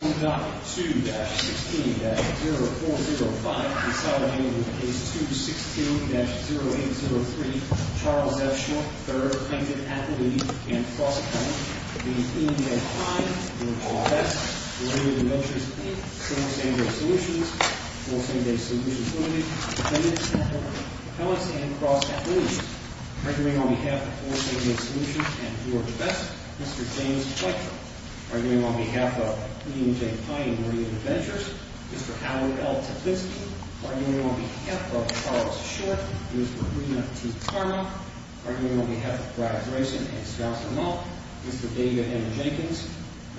2.2-16-0405 Consolidated with Case 216-0803 Charles F. Schmuck, III, plaintiff, athlete, and cross-appellant v. E. M. Kline v. George V Delivered the notice in Fort St. James Solutions Fort St. James Solutions Limited Appellants and cross-athletes Arguing on behalf of Fort St. James Solutions and George V Mr. James Pletka Arguing on behalf of William J. Pye and Maria Ventures Mr. Howard L. Teplitzky Arguing on behalf of Charles Short and Mr. Marina T. Tarmack Arguing on behalf of Brad Grayson and Scott Lamont Mr. David M. Jenkins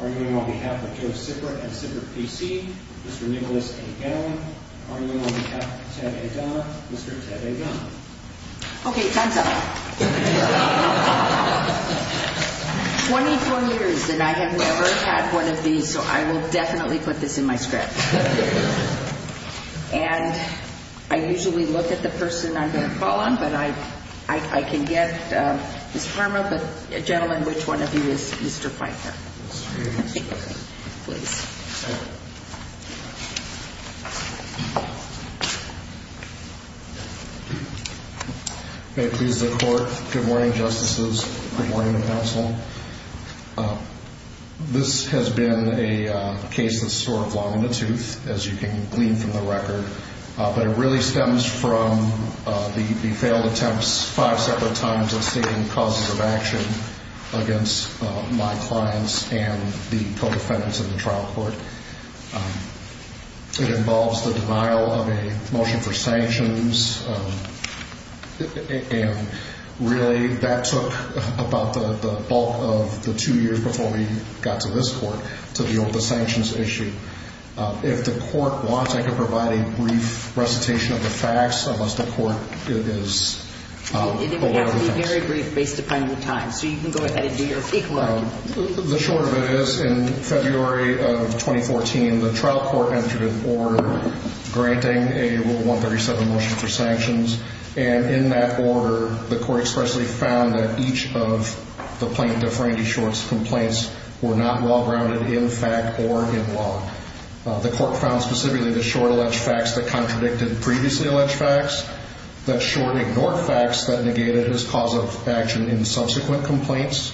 Arguing on behalf of Joe Sipper and Sipper PC Mr. Nicholas A. Gannon Arguing on behalf of Ted A. Donner Mr. Ted A. Donner Okay, time's up. Twenty-four years, and I have never had one of these, so I will definitely put this in my script. And I usually look at the person I'm going to call on, but I can get Ms. Farmer, but gentlemen, which one of you is Mr. Pletka? Please. May it please the Court. Good morning, Justices. Good morning, Counsel. This has been a case that's sort of long in the tooth, as you can glean from the record. But it really stems from the failed attempts five separate times of seeking causes of action against my clients and the co-defendants in the trial court. It involves the denial of a motion for sanctions. And really, that took about the bulk of the two years before we got to this Court to deal with the sanctions issue. If the Court wants, I can provide a brief recitation of the facts, unless the Court is It would have to be very brief, based upon your time. So you can go ahead and do your equality. The short of it is, in February of 2014, the trial court entered an order granting a Rule 137 motion for sanctions. And in that order, the Court expressly found that each of the plaintiff, Randy Short's complaints were not well-grounded in fact or in law. The Court found specifically that Short alleged facts that contradicted previously alleged facts, that Short ignored facts that negated his cause of action in subsequent complaints,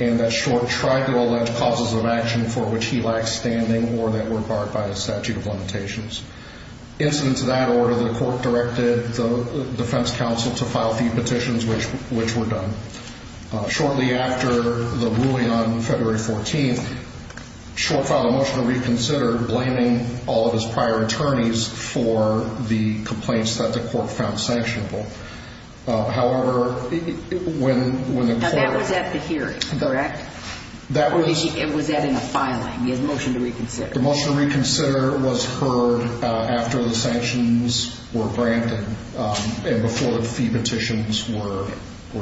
and that Short tried to allege causes of action for which he lacked standing or that were barred by the statute of limitations. In accordance with that order, the Court directed the defense counsel to file the petitions, which were done. Shortly after the ruling on February 14th, Short filed a motion to reconsider, blaming all of his prior attorneys for the complaints that the Court found sanctionable. However, when the Court Now that was at the hearing, correct? That was Or was that in a filing, the motion to reconsider? The motion to reconsider was heard after the sanctions were granted and before the fee petitions were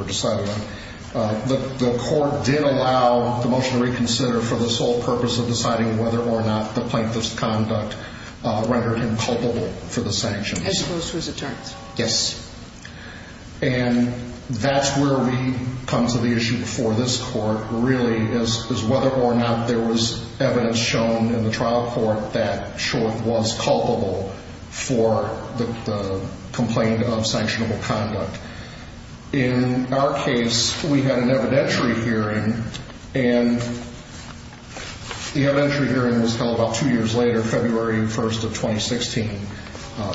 decided on. But the Court did allow the motion to reconsider for the sole purpose of deciding whether or not the plaintiff's conduct rendered him culpable for the sanctions. As opposed to his attorneys? Yes. And that's where we come to the issue for this Court, really, is whether or not there was evidence shown in the trial court that Short was culpable for the complaint of sanctionable conduct. In our case, we had an evidentiary hearing, and the evidentiary hearing was held about two years later, February 1st of 2016.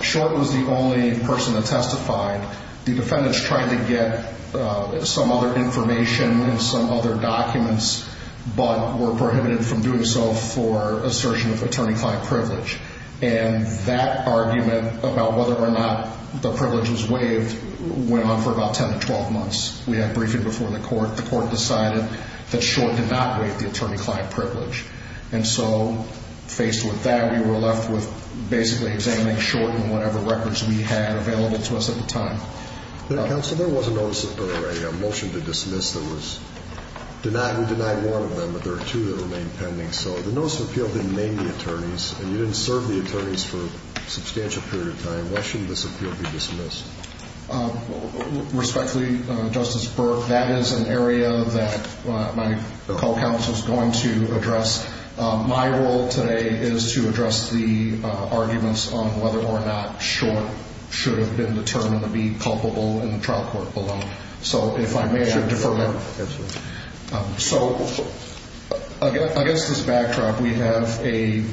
Short was the only person that testified. The defendants tried to get some other information and some other documents, but were prohibited from doing so for assertion of attorney-client privilege. And that argument about whether or not the privilege was waived went on for about 10 to 12 months. We had a briefing before the Court. The Court decided that Short did not waive the attorney-client privilege. And so, faced with that, we were left with basically examining Short and whatever records we had available to us at the time. Counsel, there was a motion to dismiss that was denied. We denied one of them, but there are two that remain pending. So the notice of appeal didn't name the attorneys, and you didn't serve the attorneys for a substantial period of time. Why shouldn't this appeal be dismissed? Respectfully, Justice Burke, that is an area that my co-counsel is going to address. My role today is to address the arguments on whether or not Short should have been determined to be culpable in the trial court alone. So if I may, I defer that. So, against this backdrop, we have a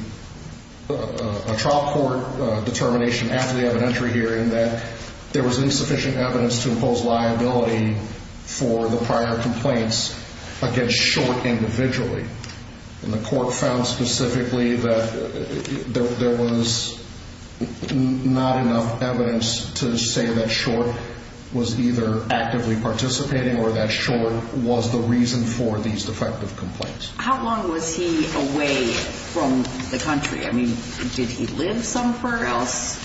trial court determination after the evidentiary hearing that there was insufficient evidence to impose liability for the prior complaints against Short individually. And the Court found specifically that there was not enough evidence to say that Short was either actively participating or that Short was the reason for these defective complaints. How long was he away from the country? I mean, did he live somewhere else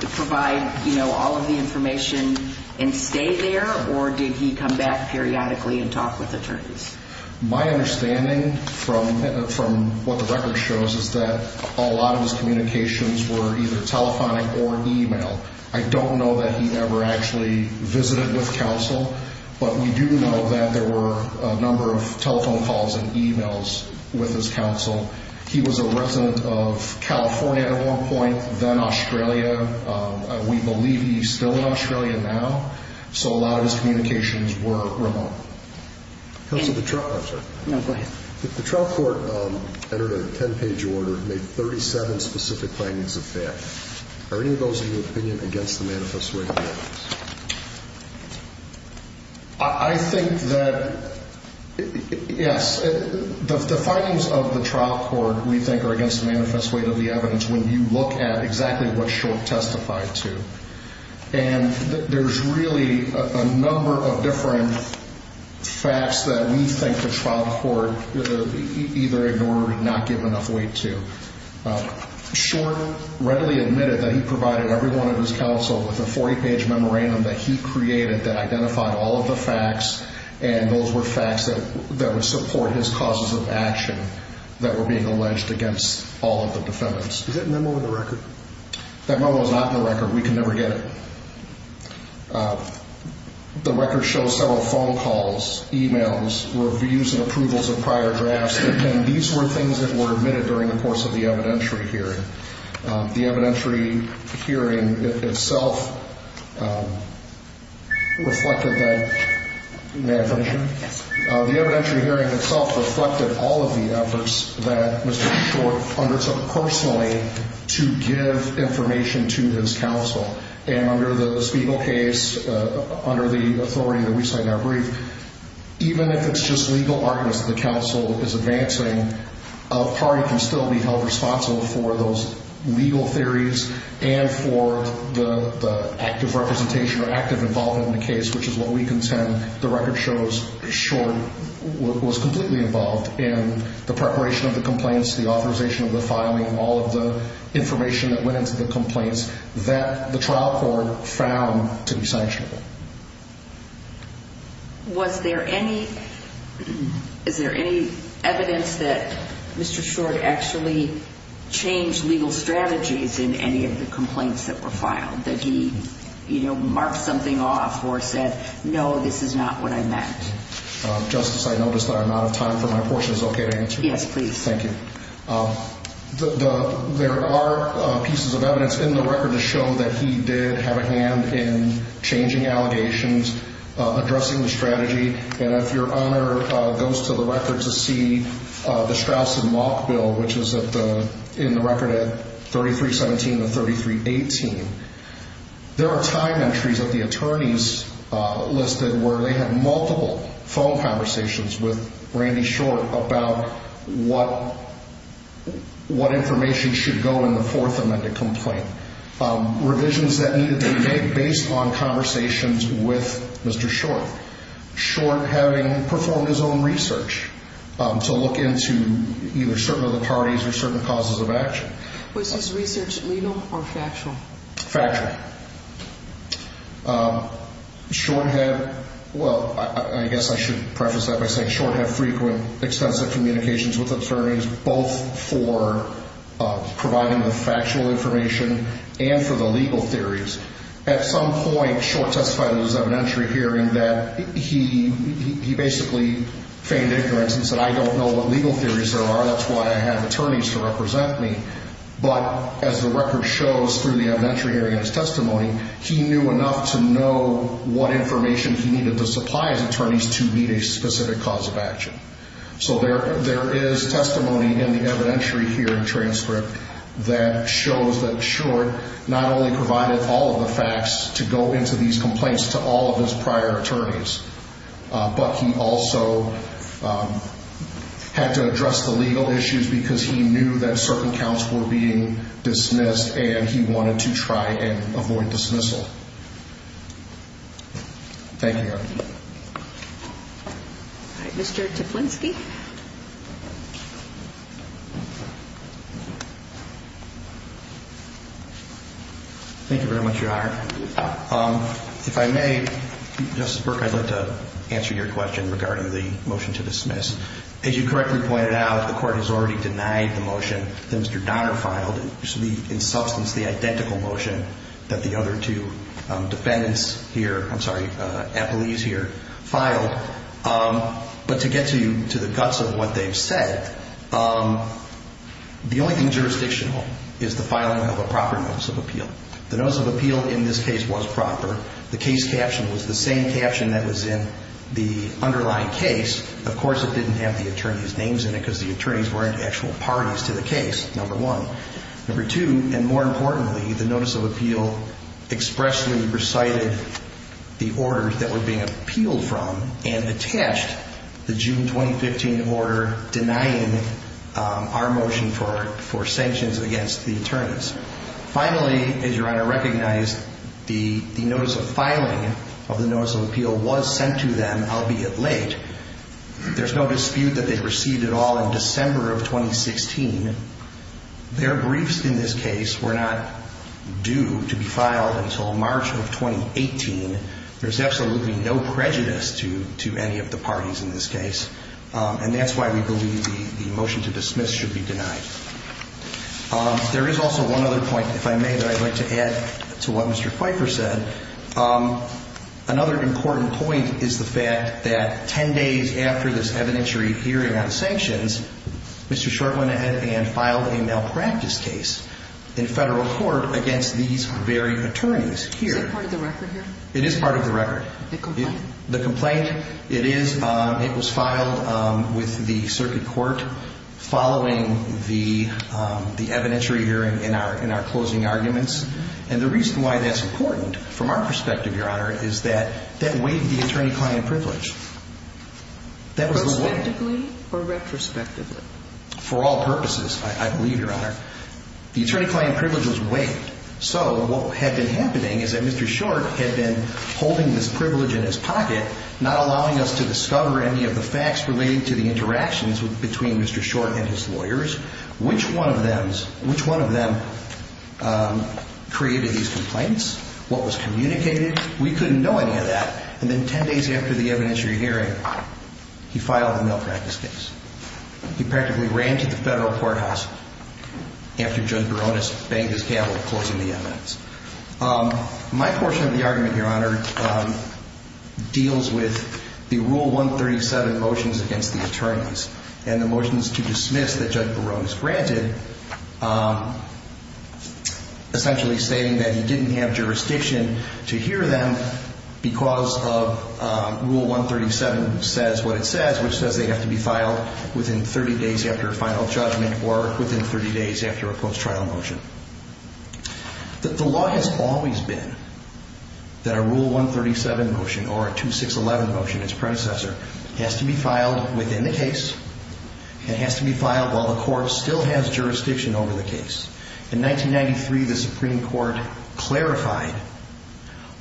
to provide, you know, all of the information and stay there, or did he come back periodically and talk with attorneys? My understanding from what the record shows is that a lot of his communications were either telephonic or email. I don't know that he ever actually visited with counsel, but we do know that there were a number of telephone calls and emails with his counsel. He was a resident of California at one point, then Australia. We believe he's still in Australia now, so a lot of his communications were remote. Counsel, the trial court entered a 10-page order, made 37 specific findings of that. Are any of those in your opinion against the manifesto? I think that, yes. The findings of the trial court, we think, are against the manifesto of the evidence when you look at exactly what Short testified to. And there's really a number of different facts that we think the trial court either ignored or did not give enough weight to. Short readily admitted that he provided everyone at his counsel with a 40-page memorandum that he created that identified all of the facts, and those were facts that would support his causes of action that were being alleged against all of the defendants. Is that memo in the record? That memo is not in the record. We can never get it. The record shows several phone calls, emails, reviews and approvals of prior drafts, and these were things that were admitted during the course of the evidentiary hearing. The evidentiary hearing itself reflected that. May I finish? Yes. The evidentiary hearing itself reflected all of the efforts that Mr. Short undertook personally to give information to his counsel. And under the Spiegel case, under the authority that we cite in our brief, even if it's just legal arguments that the counsel is advancing, a party can still be held responsible for those legal theories and for the active representation or active involvement in the case, which is what we contend the record shows Short was completely involved in the preparation of the complaints, the authorization of the filing, all of the information that went into the complaints that the trial court found to be sanctionable. Was there any evidence that Mr. Short actually changed legal strategies in any of the complaints that were filed, that he marked something off or said, no, this is not what I meant? Justice, I notice that I'm out of time for my portion. Is it okay to answer? Yes, please. Thank you. There are pieces of evidence in the record to show that he did have a hand in changing allegations, addressing the strategy. And if your honor goes to the record to see the Straus and Malk bill, which is in the record at 3317 and 3318, there are time entries that the attorneys listed where they had multiple phone conversations with Randy Short about what information should go in the Fourth Amendment complaint. Revisions that needed to be made based on conversations with Mr. Short. Short having performed his own research to look into either certain other parties or certain causes of action. Was his research legal or factual? Factual. Short had, well, I guess I should preface that by saying Short had frequent, extensive communications with attorneys, both for providing the factual information and for the legal theories. At some point, Short testified in his evidentiary hearing that he basically feigned ignorance and said, I don't know what legal theories there are. That's why I have attorneys to represent me. But as the record shows through the evidentiary hearing and his testimony, he knew enough to know what information he needed to supply his attorneys to meet a specific cause of action. So there is testimony in the evidentiary hearing transcript that shows that Short not only provided all of the facts to go into these complaints to all of his prior attorneys, but he also had to address the legal issues because he knew that certain counts were being dismissed and he wanted to try and avoid dismissal. Thank you. All right. Mr. Tiplinski. Thank you very much, Your Honor. If I may, Justice Burke, I'd like to answer your question regarding the motion to dismiss. As you correctly pointed out, the court has already denied the motion that Mr. Donner filed. It should be in substance the identical motion that the other two defendants here, I'm sorry, appellees here filed. But to get to the guts of what they've said, the only thing jurisdictional is the filing of a proper notice of appeal. The notice of appeal in this case was proper. The case caption was the same caption that was in the underlying case. Of course, it didn't have the attorney's names in it because the attorneys weren't actual parties to the case, number one. Number two, and more importantly, the notice of appeal expressly recited the orders that were being appealed from and attached the June 2015 order denying our motion for sanctions against the attorneys. Finally, as Your Honor recognized, the notice of filing of the notice of appeal was sent to them, albeit late. There's no dispute that they received it all in December of 2016. Their briefs in this case were not due to be filed until March of 2018. There's absolutely no prejudice to any of the parties in this case, and that's why we believe the motion to dismiss should be denied. There is also one other point, if I may, that I'd like to add to what Mr. Kuiper said. Another important point is the fact that 10 days after this evidentiary hearing on the sanctions, Mr. Short went ahead and filed a malpractice case in federal court against these very attorneys here. Is that part of the record here? It is part of the record. The complaint? The complaint. It is. It was filed with the circuit court following the evidentiary hearing in our closing arguments, and the reason why that's important from our perspective, Your Honor, is that that waived the attorney-client privilege. Retrospectively or retrospectively? For all purposes, I believe, Your Honor. The attorney-client privilege was waived, so what had been happening is that Mr. Short had been holding this privilege in his pocket, not allowing us to discover any of the facts related to the interactions between Mr. Short and his lawyers. Which one of them created these complaints? What was communicated? We couldn't know any of that. And then 10 days after the evidentiary hearing, he filed a malpractice case. He practically ran to the federal courthouse after Judge Barones banged his gavel closing the evidence. My portion of the argument, Your Honor, deals with the Rule 137 motions against the attorneys and the motions to dismiss that Judge Barones granted, essentially stating that he didn't have jurisdiction to hear them because of Rule 137 says what it says, which says they have to be filed within 30 days after a final judgment or within 30 days after a post-trial motion. The law has always been that a Rule 137 motion or a 2611 motion, its predecessor, has to be filed within the case. It has to be filed while the court still has jurisdiction over the case. In 1993, the Supreme Court clarified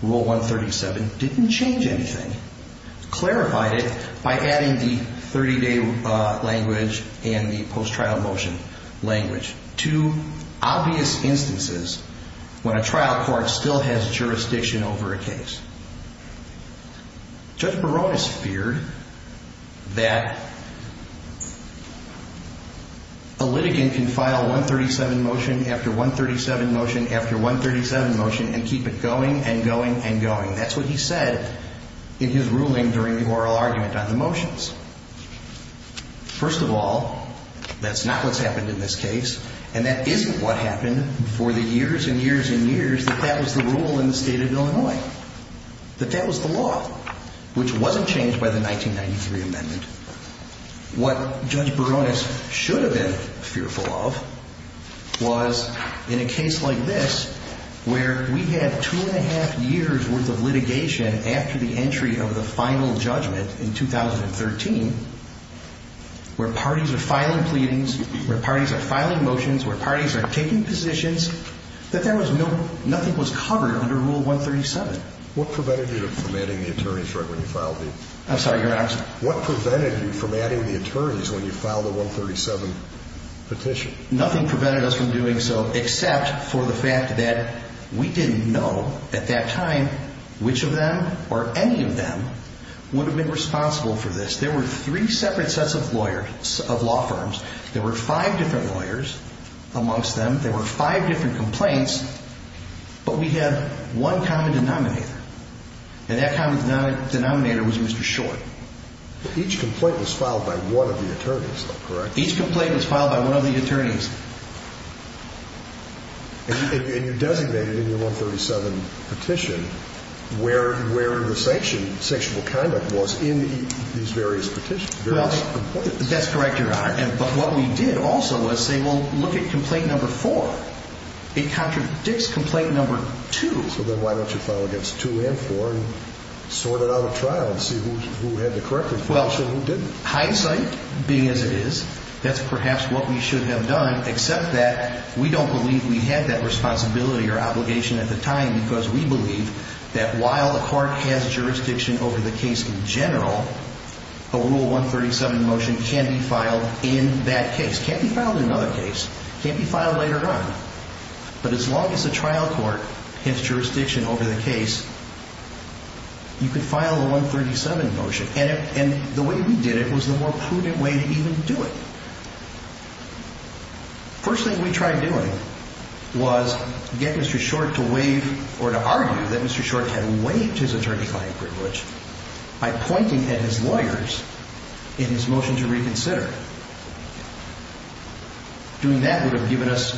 Rule 137 didn't change anything. It clarified it by adding the 30-day language and the post-trial motion language to obvious instances when a trial court still has jurisdiction over a case. Judge Barones feared that a litigant can file 137 motion after 137 motion after 137 motion and keep it going and going and going. That's what he said in his ruling during the oral argument on the motions. First of all, that's not what's happened in this case, and that isn't what happened for the years and years and years is that that was the rule in the state of Illinois, that that was the law, which wasn't changed by the 1993 amendment. What Judge Barones should have been fearful of was in a case like this where we had two and a half years' worth of litigation after the entry of the final judgment in 2013 where parties are filing pleadings, where parties are filing motions, where parties are taking positions, that nothing was covered under Rule 137. What prevented you from adding the attorneys when you filed the 137 petition? Nothing prevented us from doing so except for the fact that we didn't know at that time which of them or any of them would have been responsible for this. There were three separate sets of lawyers of law firms. There were five different lawyers amongst them. There were five different complaints, but we had one common denominator, and that common denominator was Mr. Short. Each complaint was filed by one of the attorneys, though, correct? Each complaint was filed by one of the attorneys. And you designated in your 137 petition where the sexual conduct was in these various petitions, various complaints. That's correct, Your Honor. But what we did also was say, well, look at complaint number four. It contradicts complaint number two. So then why don't you file against two and four and sort it out at trial and see who had the correct information and who didn't? Well, hindsight being as it is, that's perhaps what we should have done except that we don't believe we had that responsibility or obligation at the time because we believe that while a court has jurisdiction over the case in general, a Rule 137 motion can be filed in that case. It can't be filed in another case. It can't be filed later on. But as long as the trial court has jurisdiction over the case, you can file a 137 motion. And the way we did it was the more prudent way to even do it. The first thing we tried doing was get Mr. Short to waive or to argue that Mr. Short had waived his attorney-filing privilege by pointing at his lawyers in his motion to reconsider. Doing that would have given us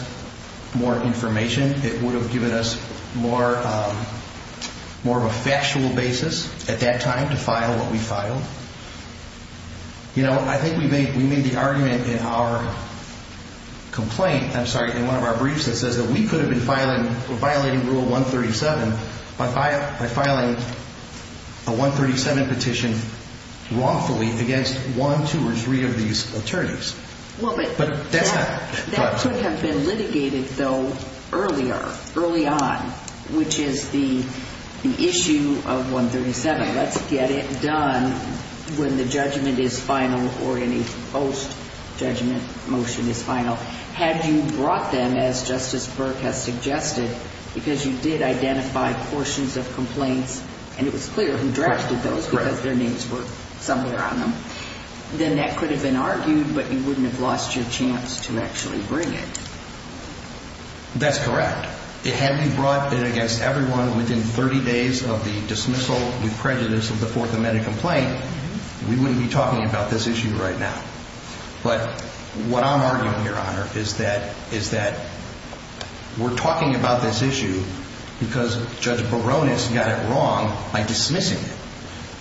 more information. It would have given us more of a factual basis at that time to file what we filed. You know, I think we made the argument in our complaint, I'm sorry, in one of our briefs that says that we could have been violating Rule 137 by filing a 137 petition wrongfully against one, two, or three of these attorneys. That could have been litigated, though, earlier, early on, which is the issue of 137. Let's get it done when the judgment is final or any post-judgment motion is final. Had you brought them, as Justice Burke has suggested, because you did identify portions of complaints and it was clear who drafted those because their names were somewhere on them, then that could have been argued, but you wouldn't have lost your chance to actually bring it. That's correct. Had we brought it against everyone within 30 days of the dismissal with prejudice of the Fourth Amendment complaint, we wouldn't be talking about this issue right now. But what I'm arguing here, Your Honor, is that we're talking about this issue because Judge Barones got it wrong by dismissing it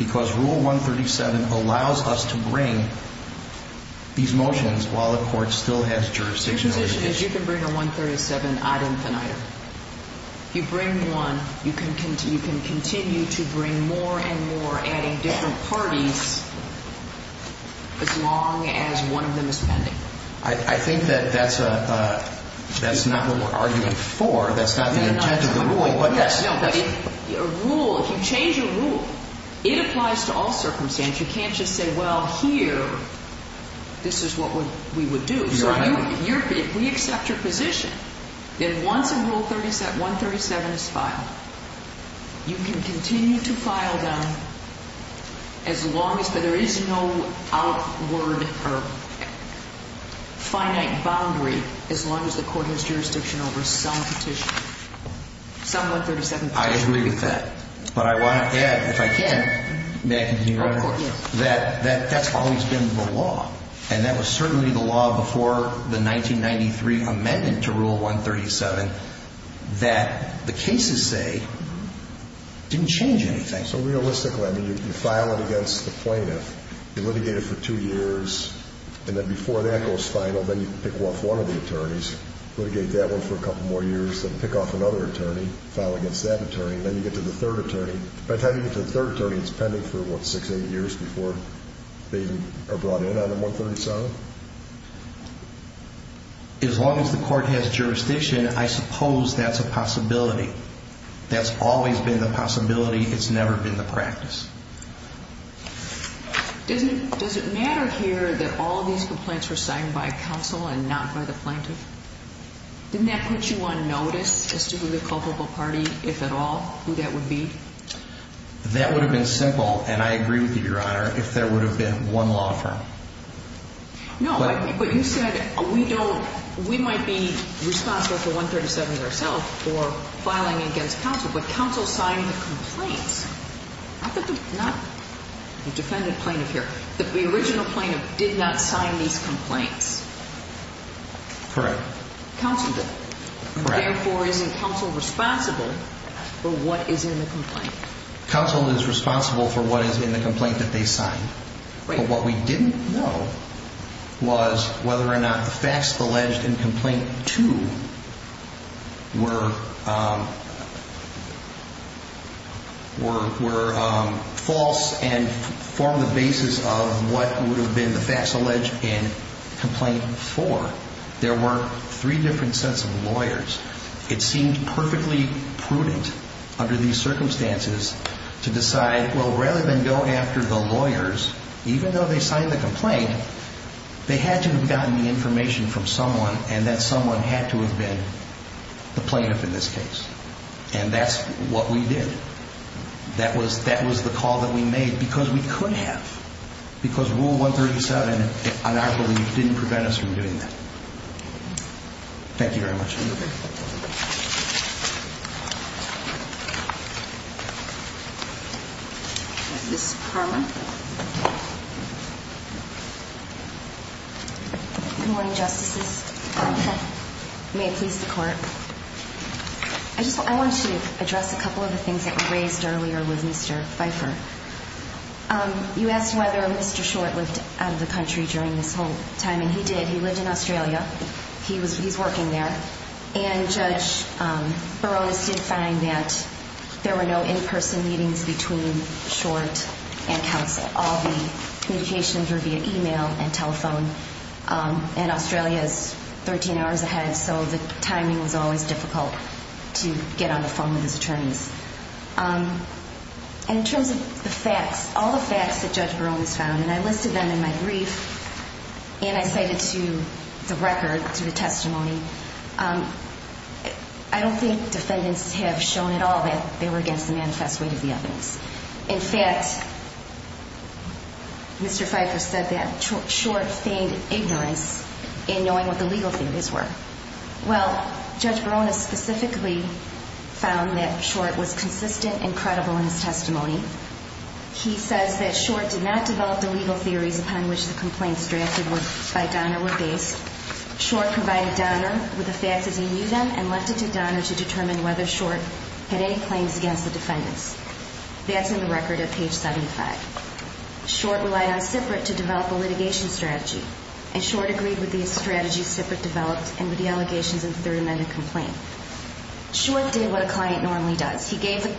because Rule 137 allows us to bring these motions while the court still has jurisdiction over the issue. Your position is you can bring a 137-odd infant item. You bring one, you can continue to bring more and more, adding different parties, as long as one of them is pending. I think that that's not what we're arguing for. That's not the intent of the rule. No, but if you change a rule, it applies to all circumstances. You can't just say, well, here, this is what we would do. So if we accept your position, then once Rule 137 is filed, you can continue to file them as long as there is no outward or finite boundary as long as the court has jurisdiction over some petition, some 137 petition. I agree with that. But I want to add, if I can, may I continue, Your Honor, that that's always been the law. And that was certainly the law before the 1993 amendment to Rule 137 that the cases say didn't change anything. So realistically, I mean, you file it against the plaintiff, you litigate it for two years, and then before that goes final, then you pick off one of the attorneys, litigate that one for a couple more years, then pick off another attorney, file against that attorney, and then you get to the third attorney. By the time you get to the third attorney, it's pending for, what, six, eight years before they are brought in on the 137? So as long as the court has jurisdiction, I suppose that's a possibility. That's always been the possibility. It's never been the practice. Does it matter here that all these complaints were signed by counsel and not by the plaintiff? Didn't that put you on notice as to who the culpable party, if at all, who that would be? That would have been simple, and I agree with you, Your Honor, if there would have been one law firm. No, but you said we don't, we might be responsible for 137 ourselves or filing against counsel, but counsel signed the complaints. Not the defendant plaintiff here. The original plaintiff did not sign these complaints. Correct. Counsel did. Correct. Therefore, isn't counsel responsible for what is in the complaint? Counsel is responsible for what is in the complaint that they signed, but what we didn't know was whether or not the facts alleged in Complaint 2 were false and formed the basis of what would have been the facts alleged in Complaint 4. It seemed perfectly prudent under these circumstances to decide, well, rather than go after the lawyers, even though they signed the complaint, they had to have gotten the information from someone and that someone had to have been the plaintiff in this case. And that's what we did. That was the call that we made because we could have, because Rule 137, on our belief, didn't prevent us from doing that. Thank you very much. Ms. Harman. Good morning, Justices. May it please the Court. I want to address a couple of the things that were raised earlier with Mr. Pfeiffer. You asked whether Mr. Short lived out of the country during this whole time, and he did. He lived in Australia. He's working there. And Judge Barones did find that there were no in-person meetings between Short and counsel. All the communications were via email and telephone. And Australia is 13 hours ahead, so the timing was always difficult to get on the phone with his attorneys. In terms of the facts, all the facts that Judge Barones found, and I listed them in my brief, and I cited to the record, to the testimony, I don't think defendants have shown at all that they were against the manifest weight of the evidence. In fact, Mr. Pfeiffer said that Short feigned ignorance in knowing what the legal theories were. Well, Judge Barones specifically found that Short was consistent and credible in his testimony. He says that Short did not develop the legal theories upon which the complaints drafted by Donner were based. Short provided Donner with the facts as he knew them and left it to Donner to determine whether Short had any claims against the defendants. That's in the record at page 75. Short relied on Siprit to develop a litigation strategy, and Short agreed with the strategy Siprit developed and with the allegations in the third amendment complaint. Short did what a client normally does. He gave the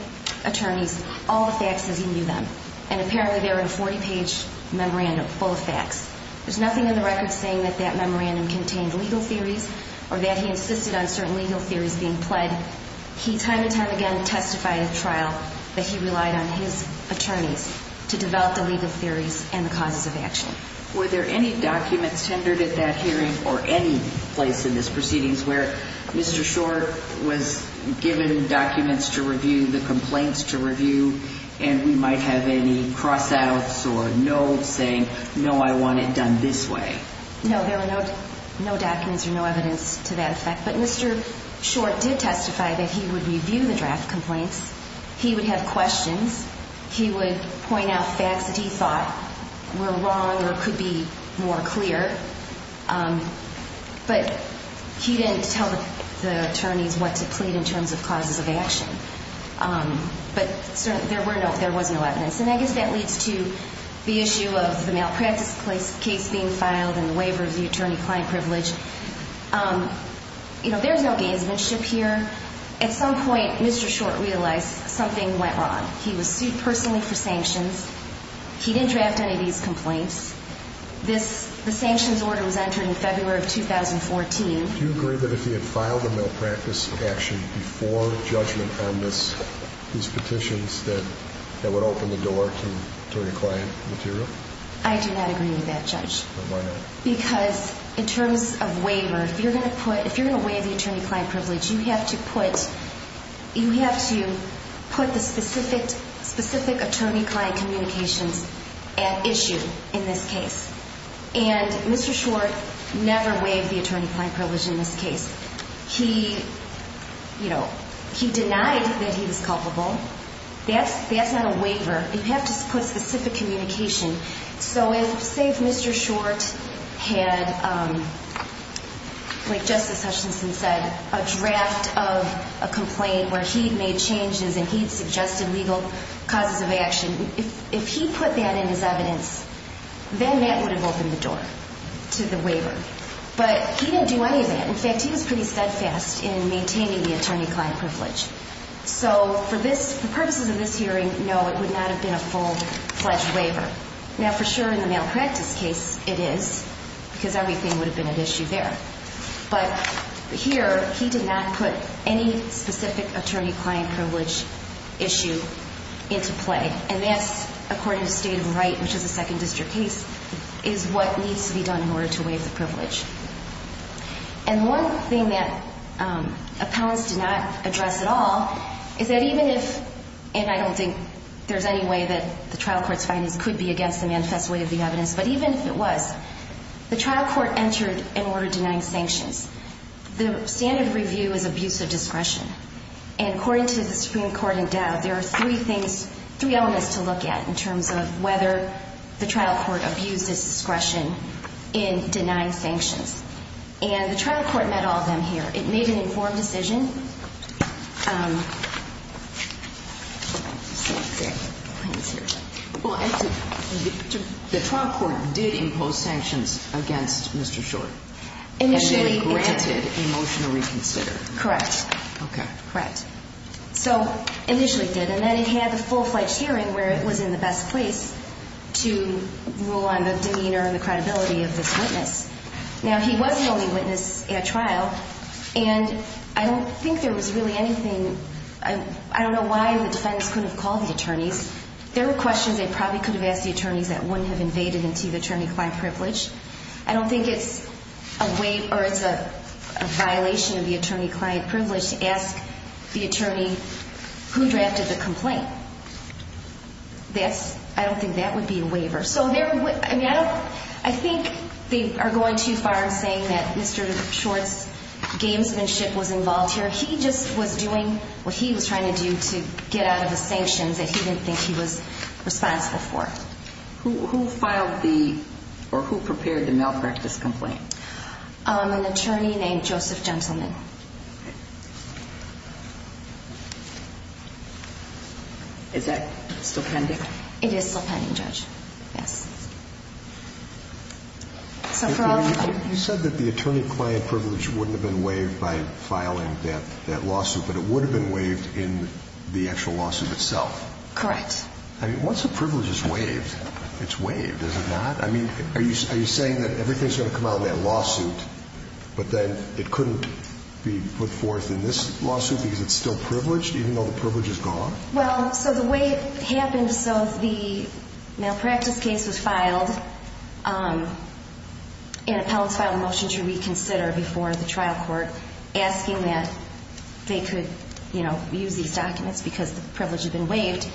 attorneys all the facts as he knew them, and apparently they were in a 40-page memorandum full of facts. There's nothing in the record saying that that memorandum contained legal theories or that he insisted on certain legal theories being pled. He time and time again testified at trial that he relied on his attorneys to develop the legal theories and the causes of action. Were there any documents tendered at that hearing or any place in this proceedings where Mr. Short was given documents to review, the complaints to review, and we might have any cross-outs or no saying, no, I want it done this way? No, there were no documents or no evidence to that effect. But Mr. Short did testify that he would review the draft complaints. He would have questions. He would point out facts that he thought were wrong or could be more clear. But he didn't tell the attorneys what to plead in terms of causes of action. But there was no evidence. And I guess that leads to the issue of the malpractice case being filed and the waiver of the attorney-client privilege. You know, there's no gamesmanship here. At some point, Mr. Short realized something went wrong. He was sued personally for sanctions. He didn't draft any of these complaints. The sanctions order was entered in February of 2014. Do you agree that if he had filed a malpractice action before judgment on these petitions that that would open the door to attorney-client material? I do not agree with that, Judge. Why not? Because in terms of waiver, if you're going to waive the attorney-client privilege, you have to put the specific attorney-client communications at issue in this case. And Mr. Short never waived the attorney-client privilege in this case. He denied that he was culpable. That's not a waiver. You have to put specific communication. So if, say, if Mr. Short had, like Justice Hutchinson said, a draft of a complaint where he had made changes and he had suggested legal causes of action, if he put that in his evidence, then that would have opened the door to the waiver. But he didn't do any of that. In fact, he was pretty steadfast in maintaining the attorney-client privilege. So for purposes of this hearing, no, it would not have been a full-fledged waiver. Now, for sure in the malpractice case it is because everything would have been at issue there. But here he did not put any specific attorney-client privilege issue into play. And that's, according to State of the Right, which is a second district case, is what needs to be done in order to waive the privilege. And one thing that appellants did not address at all is that even if, and I don't think there's any way that the trial court's findings could be against the manifest way of the evidence, but even if it was, the trial court entered an order denying sanctions. The standard review is abuse of discretion. And according to the Supreme Court in doubt, there are three things, three elements to look at in terms of whether the trial court abuses discretion in denying sanctions. And the trial court met all of them here. It made an informed decision. The trial court did impose sanctions against Mr. Short. Initially it did. And they granted a motion to reconsider. Correct. Okay. Correct. So initially it did. And then it had the full-fledged hearing where it was in the best place to rule on the demeanor and the credibility of this witness. Now, he was the only witness at trial. And I don't think there was really anything. I don't know why the defendants couldn't have called the attorneys. There were questions they probably could have asked the attorneys that wouldn't have invaded into the attorney-client privilege. I don't think it's a violation of the attorney-client privilege to ask the attorney who drafted the complaint. I don't think that would be a waiver. So I think they are going too far in saying that Mr. Short's gamesmanship was involved here. He just was doing what he was trying to do to get out of the sanctions that he didn't think he was responsible for. Who filed the or who prepared the malpractice complaint? An attorney named Joseph Gentleman. Is that still pending? It is still pending, Judge. Yes. You said that the attorney-client privilege wouldn't have been waived by filing that lawsuit, but it would have been waived in the actual lawsuit itself. Correct. I mean, once a privilege is waived, it's waived, is it not? I mean, are you saying that everything is going to come out in that lawsuit, but then it couldn't be put forth in this lawsuit because it's still privileged, even though the privilege is gone? Well, so the way it happened, so the malpractice case was filed and appellants filed a motion to reconsider before the trial court asking that they could, you know, use these documents because the privilege had been waived.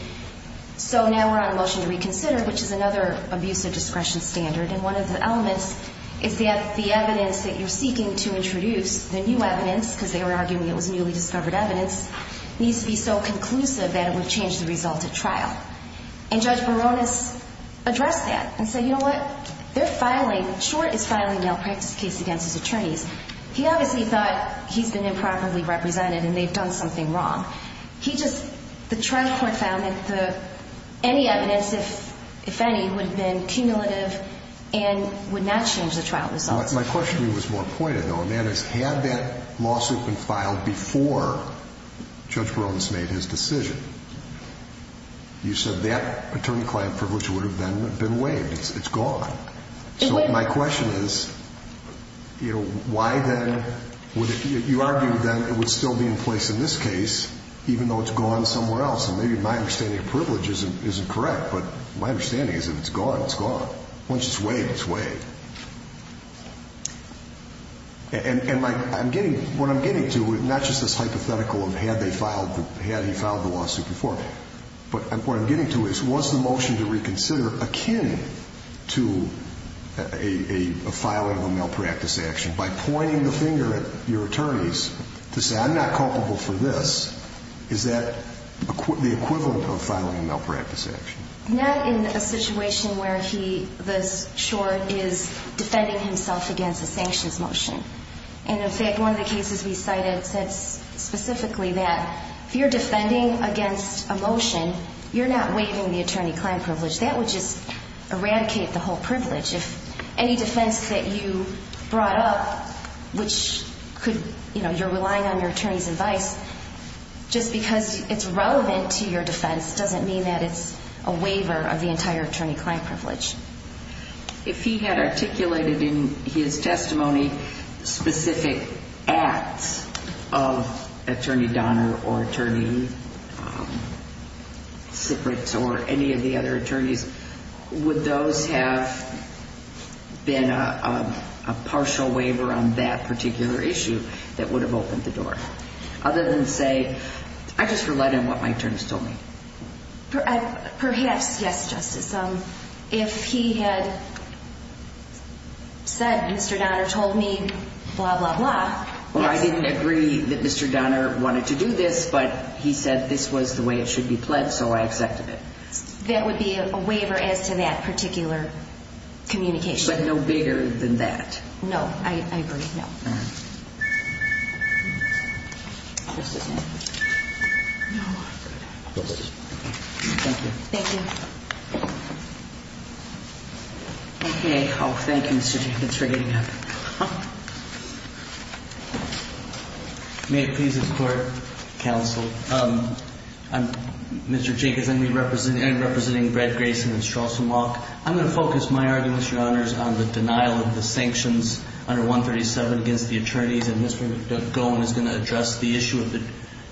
So now we're on a motion to reconsider, which is another abuse of discretion standard. And one of the elements is that the evidence that you're seeking to introduce, the new evidence, because they were arguing it was newly discovered evidence, needs to be so conclusive that it would change the result at trial. And Judge Baronis addressed that and said, you know what, they're filing, Short is filing a malpractice case against his attorneys. He obviously thought he's been improperly represented and they've done something wrong. He just, the trial court found that any evidence, if any, would have been cumulative and would not change the trial results. My question to you was more pointed, though, and that is, had that lawsuit been filed before Judge Baronis made his decision, you said that attorney-client privilege would have been waived. It's gone. So my question is, you know, why then would you argue that it would still be in place in this case, even though it's gone somewhere else? And maybe my understanding of privilege isn't correct, but my understanding is if it's gone, it's gone. Once it's waived, it's waived. And my, I'm getting, what I'm getting to is not just this hypothetical of had they filed, had he filed the lawsuit before, but what I'm getting to is, was the motion to reconsider akin to a filing of a malpractice action? By pointing the finger at your attorneys to say, I'm not culpable for this, is that the equivalent of filing a malpractice action? Not in a situation where he, this short, is defending himself against a sanctions motion. And, in fact, one of the cases we cited said specifically that if you're defending against a motion, you're not waiving the attorney-client privilege. That would just eradicate the whole privilege. If any defense that you brought up, which could, you know, you're relying on your attorney's advice, just because it's relevant to your defense doesn't mean that it's a waiver of the entire attorney-client privilege. If he had articulated in his testimony specific acts of Attorney Donner or Attorney Sipritz or any of the other attorneys, would those have been a partial waiver on that particular issue that would have opened the door? Other than say, I just relied on what my attorneys told me. Perhaps, yes, Justice. If he had said, Mr. Donner told me, blah, blah, blah. Well, I didn't agree that Mr. Donner wanted to do this, but he said this was the way it should be pledged, so I accepted it. That would be a waiver as to that particular communication. But no bigger than that. No, I agree, no. Thank you. Thank you. Okay. Oh, thank you, Mr. Jenkins, for getting up. May it please the Court, Counsel, I'm Mr. Jenkins, and I'm representing Brett Grayson and Straus and Locke. I'm going to focus my arguments, Your Honors, on the denial of the sanctions under 137 against the Attorney General. Mr. Goen is going to address the issue of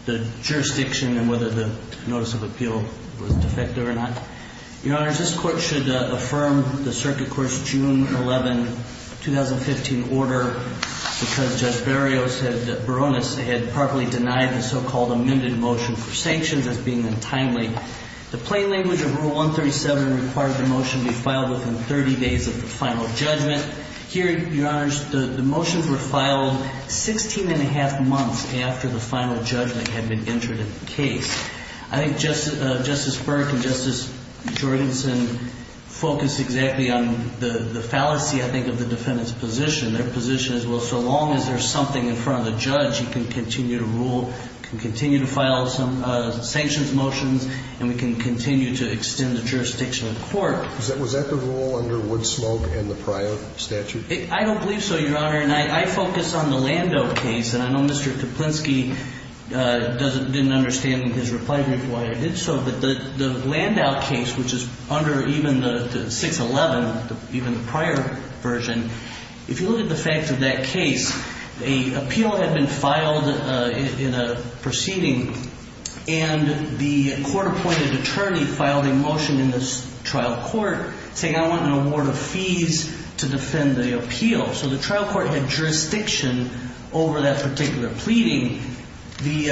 the jurisdiction and whether the notice of appeal was defective or not. Your Honors, this Court should affirm the circuit court's June 11, 2015, order, because Judge Barrios said that Baroness had properly denied the so-called amended motion for sanctions as being untimely. The plain language of Rule 137 requires the motion be filed within 30 days of the final judgment. Here, Your Honors, the motions were filed 16-and-a-half months after the final judgment had been entered into the case. I think Justice Burke and Justice Jorgensen focused exactly on the fallacy, I think, of the defendant's position. Their position is, well, so long as there's something in front of the judge, you can continue to rule, you can continue to file sanctions motions, and we can continue to extend the jurisdiction of the Court. Was that the rule under Wood Smoak and the prior statute? I don't believe so, Your Honor, and I focus on the Landau case. And I know Mr. Kaplinsky didn't understand in his reply to me why I did so, but the Landau case, which is under even the 611, even the prior version, if you look at the fact of that case, a appeal had been filed in a proceeding, and the court-appointed attorney filed a motion in the trial court saying, I want an award of fees to defend the appeal. So the trial court had jurisdiction over that particular pleading. The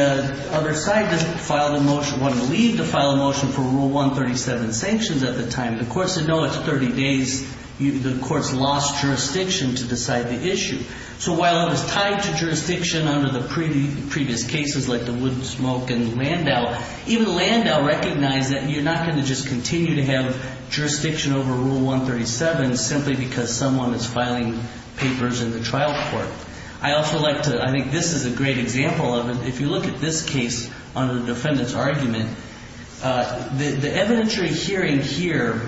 other side didn't file the motion, wanted to leave to file a motion for Rule 137 sanctions at the time. The court said, no, it's 30 days. The court's lost jurisdiction to decide the issue. So while it was tied to jurisdiction under the previous cases like the Wood Smoak and the Landau, even the Landau recognized that you're not going to just continue to have jurisdiction over Rule 137 simply because someone is filing papers in the trial court. I also like to – I think this is a great example of it. If you look at this case under the defendant's argument, the evidentiary hearing here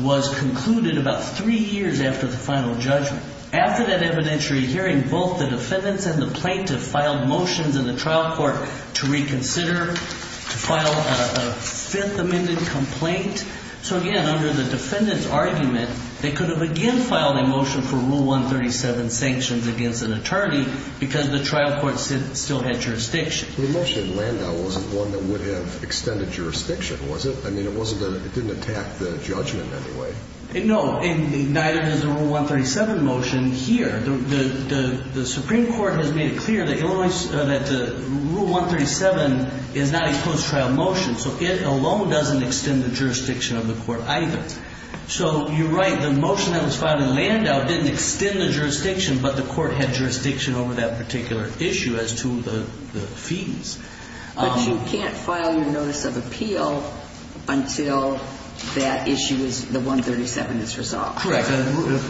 was concluded about three years after the final judgment. After that evidentiary hearing, both the defendants and the plaintiff filed motions in the trial court to reconsider, to file a Fifth Amendment complaint. So again, under the defendant's argument, they could have again filed a motion for Rule 137 sanctions against an attorney because the trial court still had jurisdiction. The motion in Landau wasn't one that would have extended jurisdiction, was it? I mean, it didn't attack the judgment in any way. No, and neither does the Rule 137 motion here. The Supreme Court has made it clear that the Rule 137 is not a closed trial motion. So it alone doesn't extend the jurisdiction of the court either. So you're right. The motion that was filed in Landau didn't extend the jurisdiction, but the court had jurisdiction over that particular issue as to the fees. But you can't file your notice of appeal until that issue is the 137 is resolved. Correct.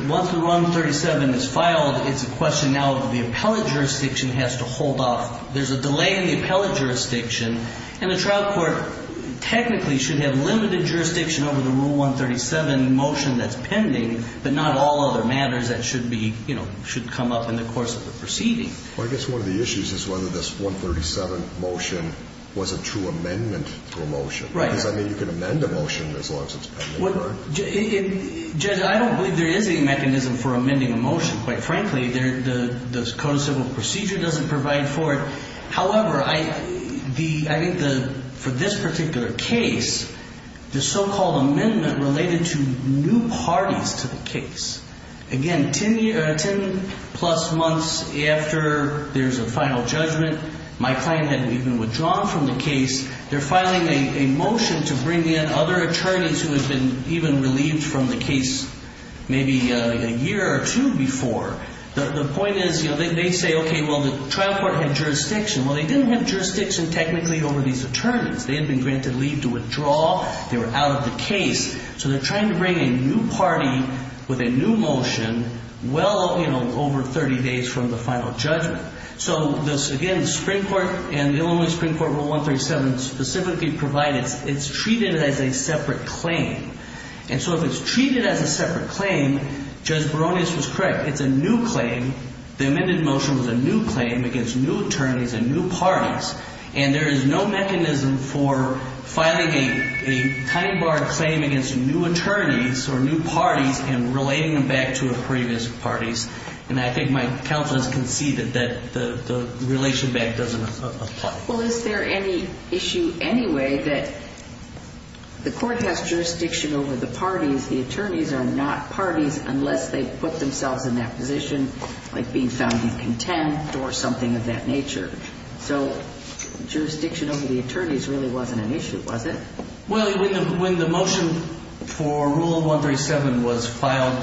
Once the 137 is filed, it's a question now that the appellate jurisdiction has to hold off. There's a delay in the appellate jurisdiction, and the trial court technically should have limited jurisdiction over the Rule 137 motion that's pending, but not all other matters that should be, you know, should come up in the course of the proceeding. Well, I guess one of the issues is whether this 137 motion was a true amendment to a motion. Right. Because, I mean, you can amend a motion as long as it's pending, correct? Judge, I don't believe there is any mechanism for amending a motion, quite frankly. The code of civil procedure doesn't provide for it. However, I think for this particular case, the so-called amendment related to new parties to the case. Again, 10-plus months after there's a final judgment, my client had even withdrawn from the case. They're filing a motion to bring in other attorneys who had been even relieved from the case maybe a year or two before. The point is, you know, they say, okay, well, the trial court had jurisdiction. Well, they didn't have jurisdiction technically over these attorneys. They had been granted leave to withdraw. They were out of the case. So they're trying to bring a new party with a new motion well over 30 days from the final judgment. So, again, the Supreme Court and the Illinois Supreme Court Rule 137 specifically provide it's treated as a separate claim. And so if it's treated as a separate claim, Judge Baronius was correct. It's a new claim. The amended motion was a new claim against new attorneys and new parties. And there is no mechanism for filing a tiny bar claim against new attorneys or new parties and relating them back to previous parties. And I think my counsel has conceded that the relation back doesn't apply. Well, is there any issue anyway that the court has jurisdiction over the parties? The attorneys are not parties unless they put themselves in that position, like being found incontent or something of that nature. So jurisdiction over the attorneys really wasn't an issue, was it? Well, when the motion for Rule 137 was filed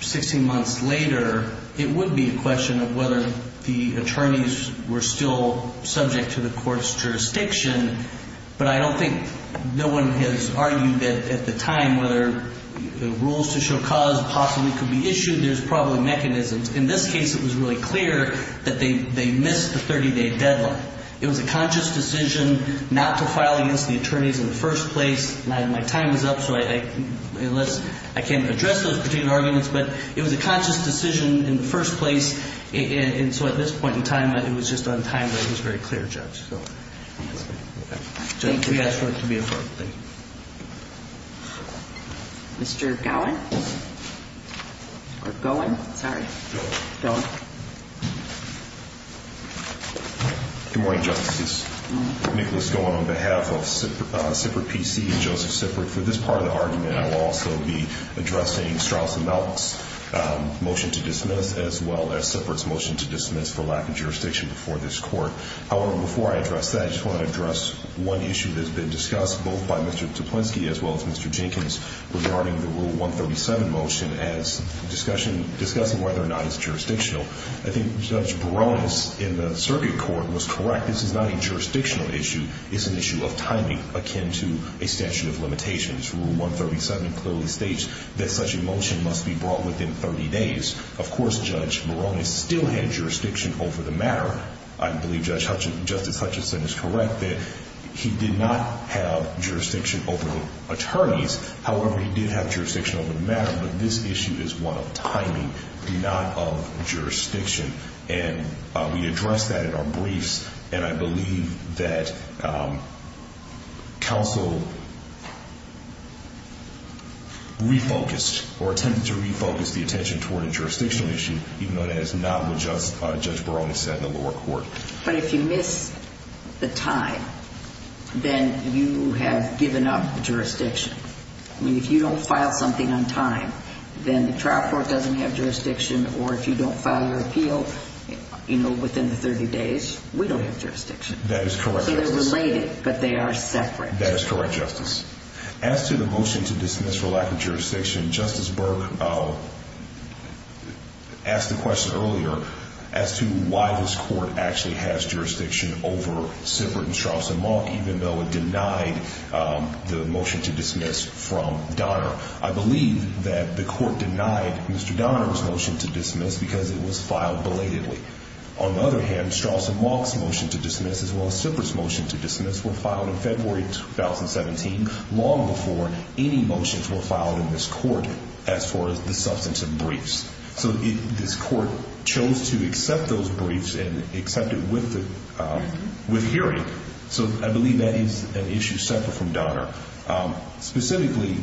16 months later, it would be a question of whether the attorneys were still subject to the court's jurisdiction. But I don't think no one has argued at the time whether rules to show cause possibly could be issued. There's probably mechanisms. In this case, it was really clear that they missed the 30-day deadline. It was a conscious decision not to file against the attorneys in the first place. My time was up, so I can't address those particular arguments. But it was a conscious decision in the first place. And so at this point in time, it was just on time that it was very clear, Judge. Thank you. We ask for it to be approved. Thank you. Mr. Gowan? Or Gowan? Sorry. Gowan. Gowan. Good morning, Justices. Nicholas Gowan on behalf of Sipric PC and Joseph Sipric. For this part of the argument, I will also be addressing Straus and Melk's motion to dismiss as well as Sipric's motion to dismiss for lack of jurisdiction before this court. However, before I address that, I just want to address one issue that has been discussed both by Mr. Tuplenski as well as Mr. Jenkins regarding the Rule 137 motion as discussing whether or not it's jurisdictional. I think Judge Barones in the circuit court was correct. This is not a jurisdictional issue. It's an issue of timing akin to a statute of limitations. Rule 137 clearly states that such a motion must be brought within 30 days. Of course, Judge Barones still had jurisdiction over the matter. I believe Justice Hutchinson is correct that he did not have jurisdiction over the attorneys. However, he did have jurisdiction over the matter, but this issue is one of timing, not of jurisdiction. We addressed that in our briefs, and I believe that counsel refocused or attempted to refocus the attention toward a jurisdictional issue, even though that is not what Judge Barones said in the lower court. But if you miss the time, then you have given up jurisdiction. I mean, if you don't file something on time, then the trial court doesn't have jurisdiction, or if you don't file your appeal within the 30 days, we don't have jurisdiction. That is correct, Justice. So they're related, but they are separate. That is correct, Justice. As to the motion to dismiss for lack of jurisdiction, Justice Burke asked the question earlier as to why this court actually has jurisdiction over Sippert and Straus and Malk, even though it denied the motion to dismiss from Donner. I believe that the court denied Mr. Donner's motion to dismiss because it was filed belatedly. On the other hand, Straus and Malk's motion to dismiss as well as Sippert's motion to dismiss were filed in February 2017, long before any motions were filed in this court as far as the substantive briefs. So this court chose to accept those briefs and accept it with hearing. So I believe that is an issue separate from Donner. Specifically,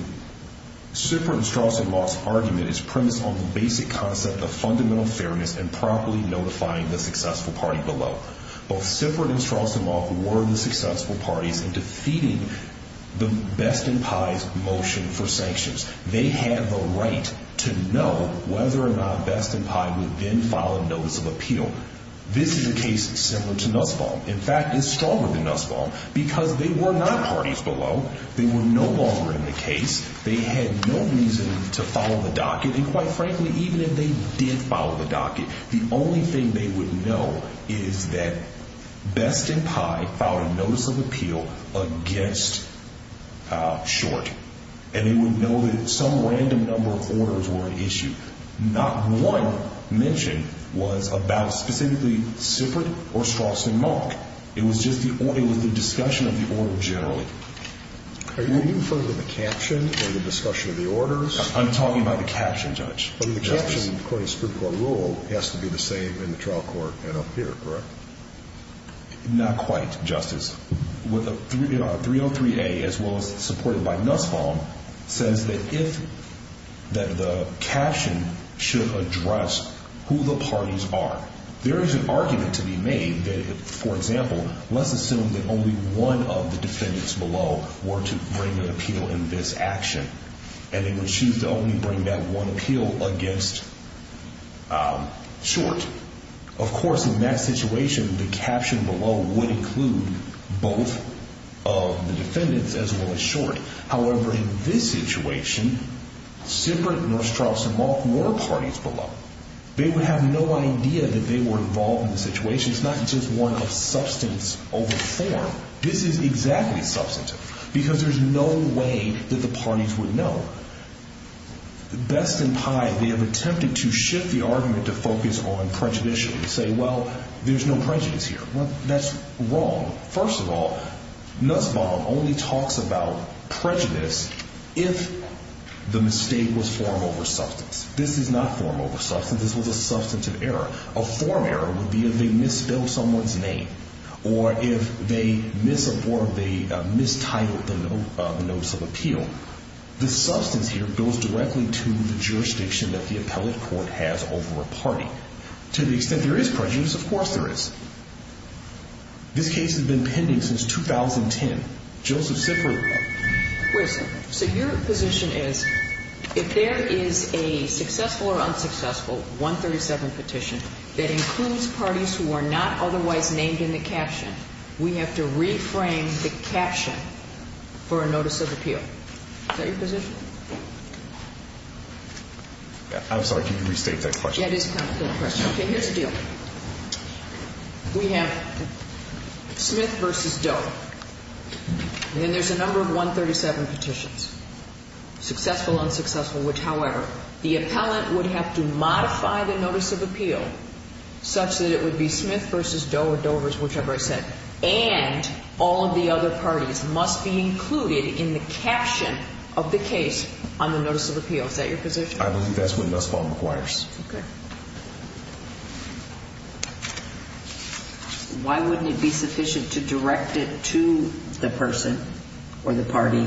Sippert and Straus and Malk's argument is premised on the basic concept of fundamental fairness and properly notifying the successful party below. Both Sippert and Straus and Malk were the successful parties in defeating the Best and Pye's motion for sanctions. They had the right to know whether or not Best and Pye would then file a notice of appeal. In fact, it's stronger than Nussbaum because they were not parties below. They were no longer in the case. They had no reason to follow the docket. And quite frankly, even if they did follow the docket, the only thing they would know is that Best and Pye filed a notice of appeal against Short. And they would know that some random number of orders were at issue. Not one mention was about specifically Sippert or Straus and Malk. It was just the discussion of the order generally. Are you referring to the caption or the discussion of the orders? I'm talking about the caption, Judge. But the caption, according to the Supreme Court rule, has to be the same in the trial court and up here, correct? Not quite, Justice. 303A, as well as supported by Nussbaum, says that the caption should address who the parties are. There is an argument to be made that, for example, let's assume that only one of the defendants below were to bring an appeal in this action. And they would choose to only bring that one appeal against Short. Of course, in that situation, the caption below would include both of the defendants as well as Short. However, in this situation, Sippert, Nussbaum, Straus, and Malk were parties below. They would have no idea that they were involved in the situation. It's not just one of substance over form. This is exactly substantive because there's no way that the parties would know. Best and Pye, they have attempted to shift the argument to focus on prejudice and say, well, there's no prejudice here. Well, that's wrong. First of all, Nussbaum only talks about prejudice if the mistake was form over substance. This is not form over substance. This was a substantive error. A form error would be if they misspelled someone's name or if they mistitled the notes of appeal. This substance here goes directly to the jurisdiction that the appellate court has over a party. To the extent there is prejudice, of course there is. This case has been pending since 2010. Joseph Sippert. Wait a second. So your position is if there is a successful or unsuccessful 137 petition that includes parties who are not otherwise named in the caption, we have to reframe the caption for a notice of appeal. Is that your position? I'm sorry. Can you restate that question? Yeah, it is kind of a good question. Okay, here's the deal. We have Smith v. Doe. And then there's a number of 137 petitions, successful, unsuccessful, which, however, the appellant would have to modify the notice of appeal such that it would be Smith v. Doe or Dover's, whichever it said, and all of the other parties must be included in the caption of the case on the notice of appeal. Is that your position? I believe that's what this form requires. Okay. Why wouldn't it be sufficient to direct it to the person or the party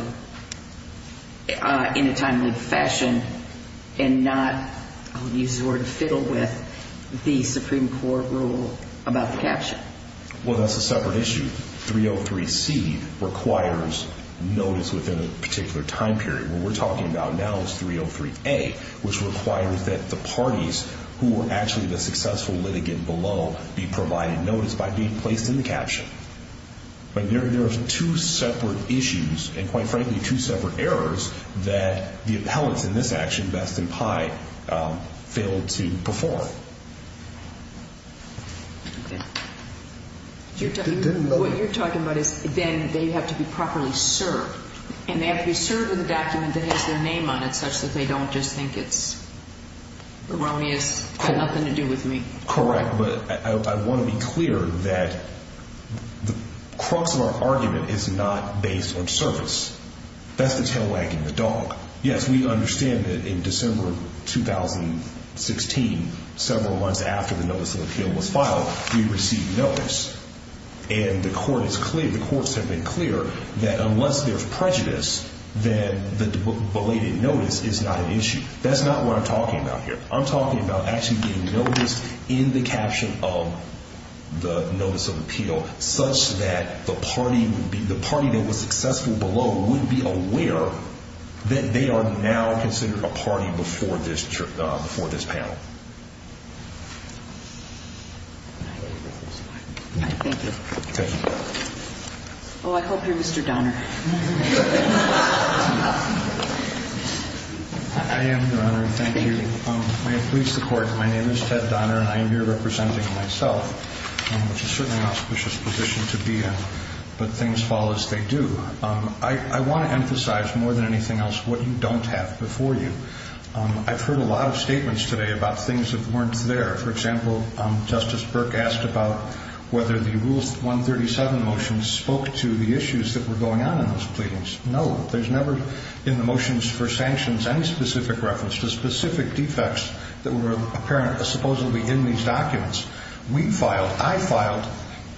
in a timely fashion and not use the word fiddle with the Supreme Court rule about the caption? Well, that's a separate issue. 303C requires notice within a particular time period. What we're talking about now is 303A, which requires that the parties who were actually the successful litigant below be provided notice by being placed in the caption. But there are two separate issues and, quite frankly, two separate errors that the appellants in this action, Best and Pye, failed to perform. What you're talking about is then they have to be properly served, and they have to be served with a document that has their name on it such that they don't just think it's erroneous, got nothing to do with me. Correct. But I want to be clear that the crux of our argument is not based on service. That's the tail wagging the dog. Yes, we understand that in December of 2016, several months after the notice of appeal was filed, we received notice. And the courts have been clear that unless there's prejudice, then the belated notice is not an issue. That's not what I'm talking about here. I'm talking about actually getting notice in the caption of the notice of appeal such that the party that was successful below would be aware that they are now considered a party before this panel. Thank you. Oh, I hope you're Mr. Donner. I am, Your Honor. Thank you. May it please the Court, my name is Ted Donner, and I am here representing myself, which is certainly an auspicious position to be in, but things fall as they do. I want to emphasize more than anything else what you don't have before you. I've heard a lot of statements today about things that weren't there. For example, Justice Burke asked about whether the Rules 137 motions spoke to the issues that were going on in those pleadings. No, there's never in the motions for sanctions any specific reference to specific defects that were apparent supposedly in these documents. We filed, I filed,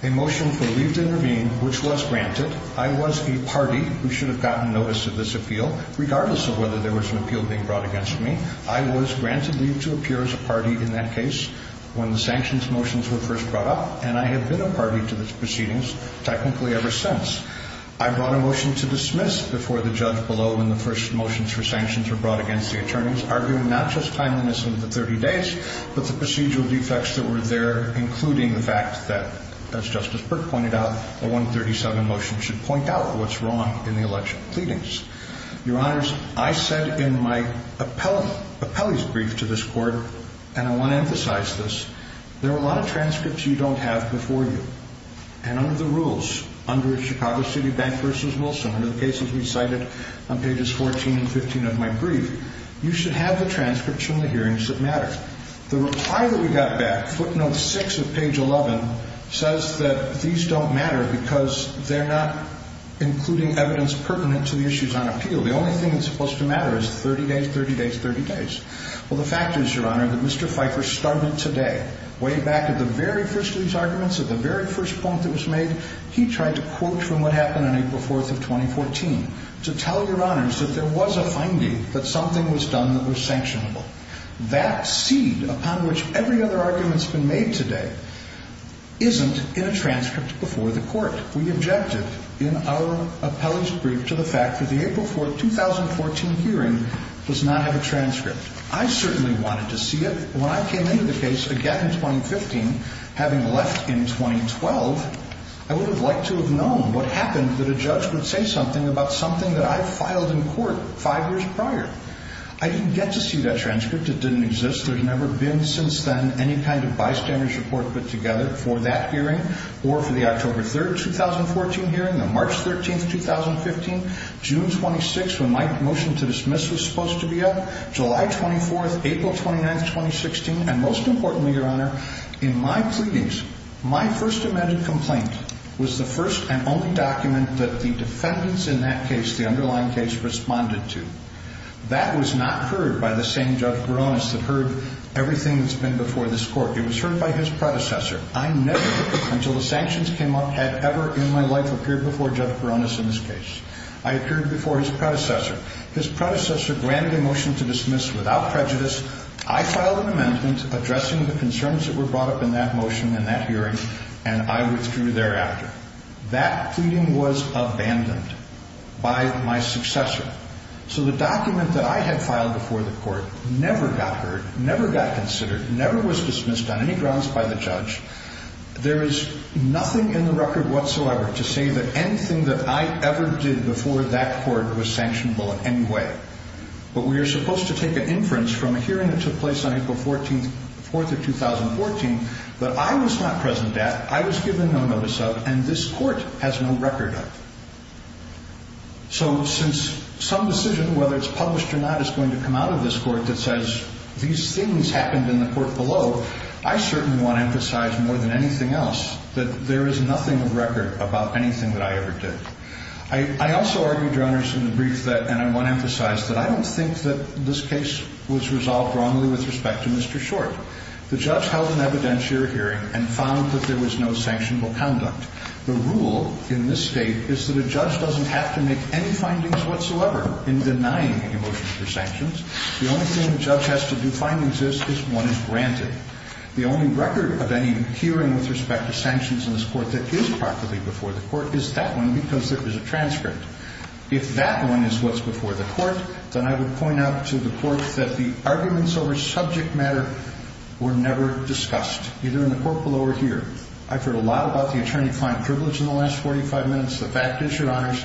a motion for leave to intervene, which was granted. I was a party who should have gotten notice of this appeal, regardless of whether there was an appeal being brought against me. I was granted leave to appear as a party in that case when the sanctions motions were first brought up, and I have been a party to these proceedings technically ever since. I brought a motion to dismiss before the judge below when the first motions for sanctions were brought against the attorneys, arguing not just timeliness of the 30 days, but the procedural defects that were there, including the fact that, as Justice Burke pointed out, the 137 motion should point out what's wrong in the election pleadings. Your Honors, I said in my appellee's brief to this Court, and I want to emphasize this, there are a lot of transcripts you don't have before you. And under the rules, under Chicago City Bank v. Wilson, under the cases we cited on pages 14 and 15 of my brief, you should have the transcripts from the hearings that matter. The reply that we got back, footnote 6 of page 11, says that these don't matter because they're not including evidence pertinent to the issues on appeal. The only thing that's supposed to matter is 30 days, 30 days, 30 days. Well, the fact is, Your Honor, that Mr. Pfeiffer started today, way back at the very first of these arguments, at the very first point that was made, he tried to quote from what happened on April 4th of 2014 to tell Your Honors that there was a finding that something was done that was sanctionable. That seed upon which every other argument's been made today isn't in a transcript before the Court. We objected in our appellee's brief to the fact that the April 4th, 2014 hearing does not have a transcript. I certainly wanted to see it. When I came into the case again in 2015, having left in 2012, I would have liked to have known what happened that a judge would say something about something that I filed in court five years prior. I didn't get to see that transcript. It didn't exist. There's never been since then any kind of bystander's report put together for that hearing or for the October 3rd, 2014 hearing, the March 13th, 2015, June 26th, when my motion to dismiss was supposed to be up, July 24th, April 29th, 2016, and most importantly, Your Honor, in my pleadings, my first amended complaint was the first and only document that the defendants in that case, the underlying case, responded to. That was not heard by the same Judge Baronis that heard everything that's been before this Court. It was heard by his predecessor. I never, until the sanctions came up, had ever in my life appeared before Judge Baronis in this case. I appeared before his predecessor. His predecessor granted a motion to dismiss without prejudice. I filed an amendment addressing the concerns that were brought up in that motion and that hearing, and I withdrew thereafter. That pleading was abandoned by my successor. So the document that I had filed before the Court never got heard, never got considered, never was dismissed on any grounds by the judge. There is nothing in the record whatsoever to say that anything that I ever did before that Court was sanctionable in any way. But we are supposed to take an inference from a hearing that took place on April 4th of 2014 that I was not present at, I was given no notice of, and this Court has no record of. So since some decision, whether it's published or not, is going to come out of this Court that says, these things happened in the Court below, I certainly want to emphasize more than anything else that there is nothing of record about anything that I ever did. I also argued, Your Honors, in the brief that, and I want to emphasize, that I don't think that this case was resolved wrongly with respect to Mr. Short. The judge held an evidentiary hearing and found that there was no sanctionable conduct. The rule in this State is that a judge doesn't have to make any findings whatsoever in denying a motion for sanctions. The only thing the judge has to do find exists is one is granted. The only record of any hearing with respect to sanctions in this Court that is properly before the Court is that one because there is a transcript. If that one is what's before the Court, then I would point out to the Court that the arguments over subject matter were never discussed, either in the Court below or here. I've heard a lot about the attorney-client privilege in the last 45 minutes. The fact is, Your Honors,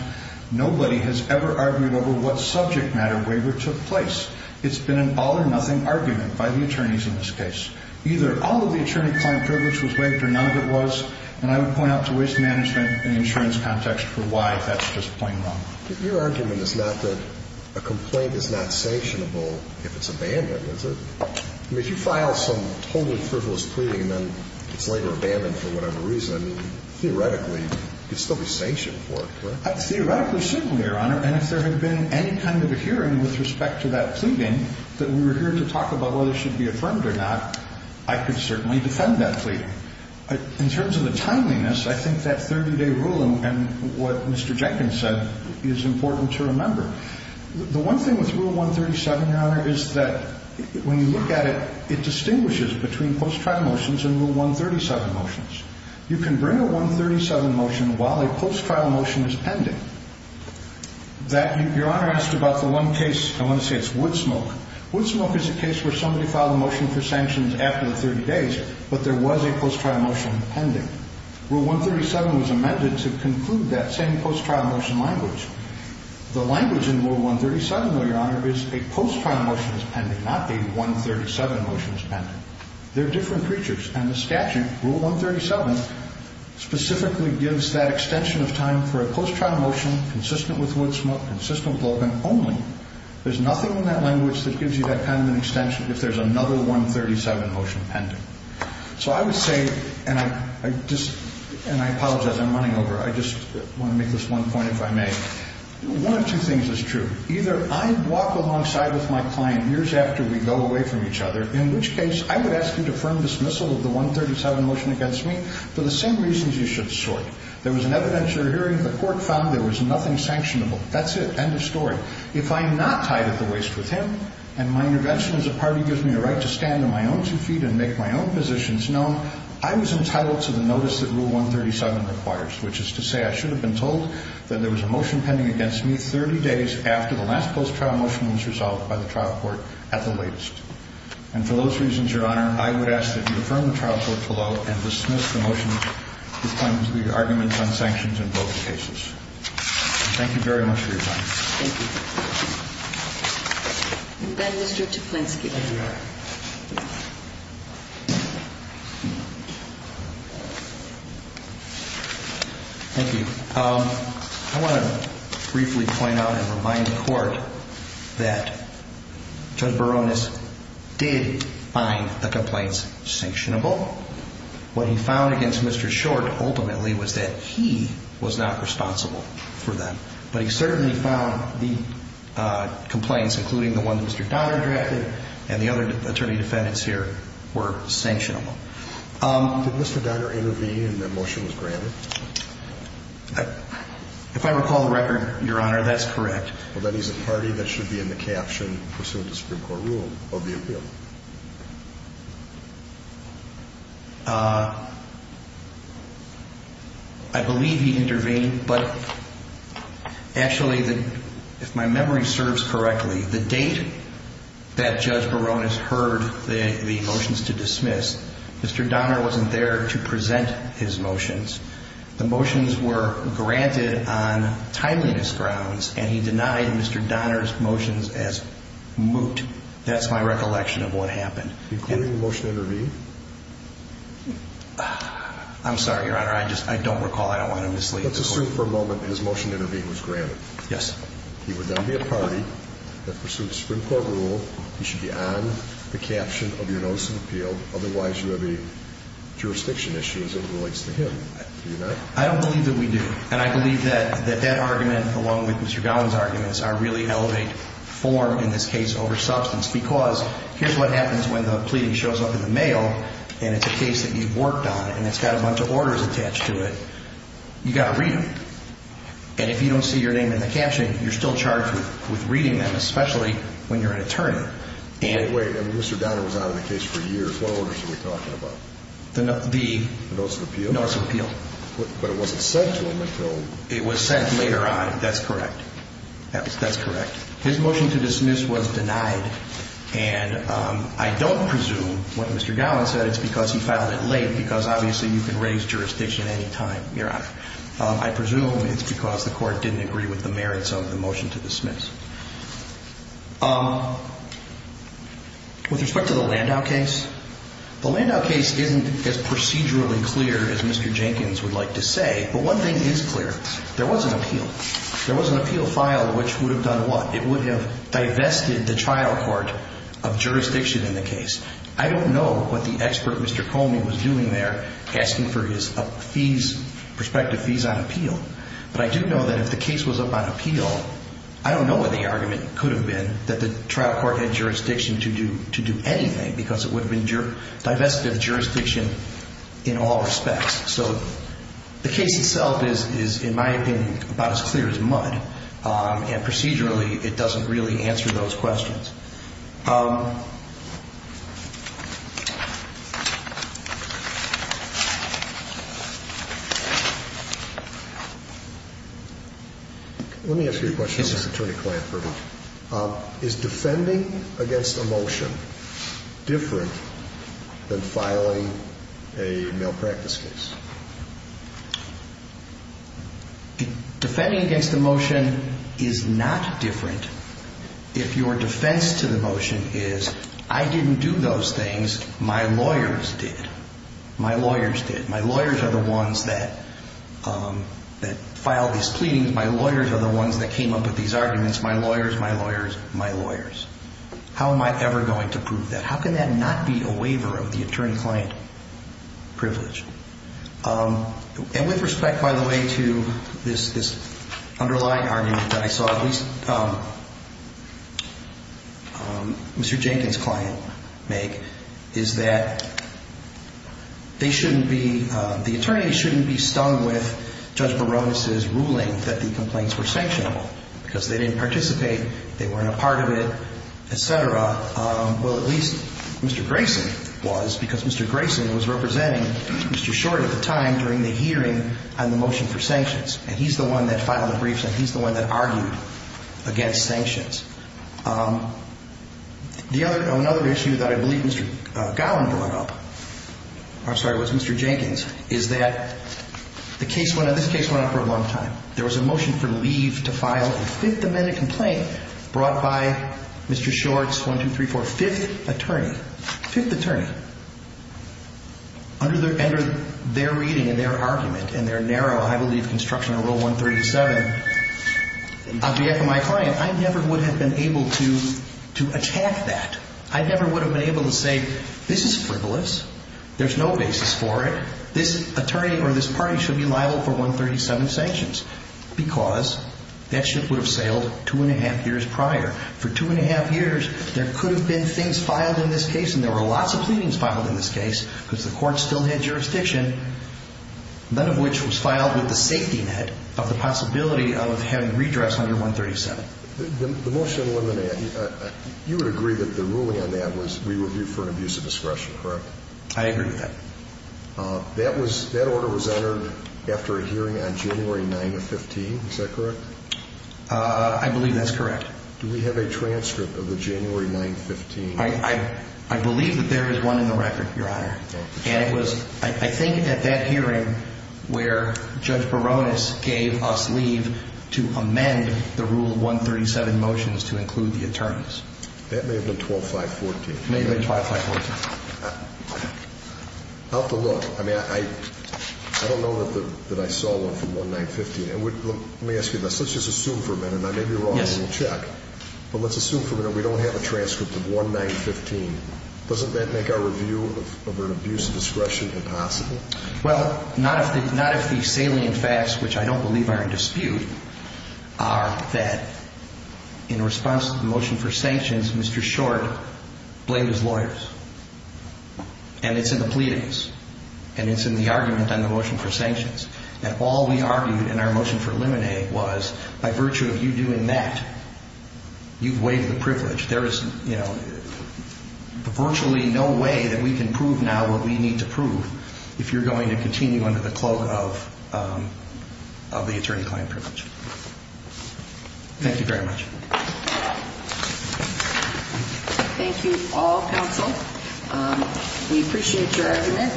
nobody has ever argued over what subject matter waiver took place. It's been an all-or-nothing argument by the attorneys in this case. Either all of the attorney-client privilege was waived or none of it was, and I would point out to Waste Management and Insurance Context for why that's just plain wrong. Your argument is not that a complaint is not sanctionable if it's abandoned, is it? I mean, if you file some totally frivolous plea and then it's later abandoned for whatever reason, theoretically, you'd still be sanctioned for it, correct? Theoretically, similarly, Your Honor, and if there had been any kind of a hearing with respect to that pleading that we were here to talk about whether it should be affirmed or not, I could certainly defend that pleading. In terms of the timeliness, I think that 30-day rule and what Mr. Jenkins said is important to remember. The one thing with Rule 137, Your Honor, is that when you look at it, it distinguishes between post-trial motions and Rule 137 motions. You can bring a 137 motion while a post-trial motion is pending. Your Honor asked about the one case, I want to say it's Woodsmoke. Woodsmoke is a case where somebody filed a motion for sanctions after the 30 days, but there was a post-trial motion pending. Rule 137 was amended to conclude that same post-trial motion language. The language in Rule 137, though, Your Honor, is a post-trial motion is pending, not a 137 motion is pending. They're different creatures, and the statute, Rule 137, specifically gives that extension of time for a post-trial motion consistent with Woodsmoke, consistent with Logan only. There's nothing in that language that gives you that kind of an extension if there's another 137 motion pending. So I would say, and I apologize, I'm running over. I just want to make this one point, if I may. One of two things is true. Either I walk alongside with my client years after we go away from each other, in which case I would ask you to firm dismissal of the 137 motion against me for the same reasons you should sort. There was an evidentiary hearing. The court found there was nothing sanctionable. That's it. End of story. If I am not tied at the waist with him and my intervention as a party gives me the right to stand on my own two feet and make my own positions known, I was entitled to the notice that Rule 137 requires, which is to say I should have been told that there was a motion pending against me 30 days after the last post-trial motion was resolved by the trial court at the latest. And for those reasons, Your Honor, I would ask that you affirm the trial court below and dismiss the motion that claims the arguments on sanctions in both cases. Thank you very much for your time. Thank you. And then Mr. Toplinsky. Thank you. I want to briefly point out and remind the court that Judge Baronis did find the complaints sanctionable. What he found against Mr. Short ultimately was that he was not responsible for them. But he certainly found the complaints, including the one that Mr. Donner drafted and the other attorney defendants here, were sanctionable. Did Mr. Donner intervene and the motion was granted? If I recall the record, Your Honor, that's correct. Well, then he's a party that should be in the caption pursuant to Supreme Court rule of the appeal. I believe he intervened. But actually, if my memory serves correctly, the date that Judge Baronis heard the motions to dismiss, Mr. Donner wasn't there to present his motions. The motions were granted on timeliness grounds, and he denied Mr. Donner's motions as moot. That's my recollection. Including the motion to intervene? I'm sorry, Your Honor. I don't recall. I don't want to mislead the court. Let's assume for a moment his motion to intervene was granted. Yes. He would then be a party that pursuits Supreme Court rule. He should be on the caption of your notice of appeal. Otherwise, you have a jurisdiction issue as it relates to him. Do you not? I don't believe that we do. And I believe that that argument, along with Mr. Gowen's arguments, really elevate form in this case over substance. Because here's what happens when the pleading shows up in the mail, and it's a case that you've worked on, and it's got a bunch of orders attached to it. You've got to read them. And if you don't see your name in the caption, you're still charged with reading them, especially when you're an attorney. Wait. Mr. Donner was out of the case for years. What orders are we talking about? The notes of appeal. But it wasn't sent to him until? It was sent later on. That's correct. That's correct. His motion to dismiss was denied. And I don't presume what Mr. Gowen said. It's because he filed it late, because obviously you can raise jurisdiction at any time, Your Honor. I presume it's because the court didn't agree with the merits of the motion to dismiss. With respect to the Landau case, the Landau case isn't as procedurally clear as Mr. Jenkins would like to say, but one thing is clear. There was an appeal. There was an appeal filed, which would have done what? It would have divested the trial court of jurisdiction in the case. I don't know what the expert, Mr. Comey, was doing there, asking for his fees, prospective fees on appeal. But I do know that if the case was up on appeal, I don't know what the argument could have been that the trial court had jurisdiction to do anything, because it would have divested the jurisdiction in all respects. So the case itself is, in my opinion, about as clear as mud, and procedurally it doesn't really answer those questions. Let me ask you a question about this attorney client verdict. Is defending against a motion different than filing a malpractice case? Defending against a motion is not different if your defense to the motion is, I didn't do those things, my lawyers did. My lawyers did. I'm not the ones that filed these pleadings. My lawyers are the ones that came up with these arguments. My lawyers, my lawyers, my lawyers. How am I ever going to prove that? How can that not be a waiver of the attorney client privilege? And with respect, by the way, to this underlying argument that I saw at least Mr. Jenkins' client make, is that they shouldn't be, the attorney shouldn't be stung with Judge Barones' ruling that the complaints were sanctionable, because they didn't participate, they weren't a part of it, et cetera. Well, at least Mr. Grayson was, because Mr. Grayson was representing Mr. Short at the time during the hearing on the motion for sanctions. And he's the one that filed the briefs, and he's the one that argued against sanctions. Another issue that I believe Mr. Gowen brought up, I'm sorry, was Mr. Jenkins, is that the case went, this case went on for a long time. There was a motion for leave to file a Fifth Amendment complaint brought by Mr. Short's, one, two, three, four, Fifth Attorney. Fifth Attorney. Under their reading and their argument and their narrow, I believe, construction of Rule 137, of the FMI client, I never would have been able to attack that. I never would have been able to say, this is frivolous, there's no basis for it, this attorney or this party should be liable for 137 sanctions, because that should have sailed two and a half years prior. For two and a half years, there could have been things filed in this case, and there were lots of pleadings filed in this case, because the court still had jurisdiction, none of which was filed with the safety net of the possibility of having redress under 137. The motion, you would agree that the ruling on that was re-reviewed for an abuse of discretion, correct? I agree with that. That order was entered after a hearing on January 9th of 15, is that correct? I believe that's correct. Do we have a transcript of the January 9th of 15? I believe that there is one in the record, Your Honor. And it was, I think, at that hearing where Judge Baronis gave us leave to amend the Rule 137 motions to include the attorneys. That may have been 12-5-14. It may have been 12-5-14. I'll have to look. I mean, I don't know that I saw one from 1-9-15. Let me ask you this. Let's just assume for a minute, and maybe you're wrong, and we'll check. But let's assume for a minute we don't have a transcript of 1-9-15. Doesn't that make our review of an abuse of discretion impossible? Well, not if the salient facts, which I don't believe are in dispute, are that in response to the motion for sanctions, Mr. Short blamed his lawyers. And it's in the pleadings. And it's in the argument on the motion for sanctions. And all we argued in our motion for limine was by virtue of you doing that, you've waived the privilege. There is virtually no way that we can prove now what we need to prove if you're going to continue under the cloak of the attorney-client privilege. Thank you very much. Thank you all, counsel. We appreciate your argument.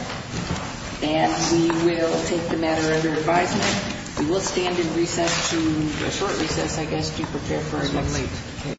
And we will take the matter under advisement. We will stand in recess to a short recess, I guess, to prepare for our next.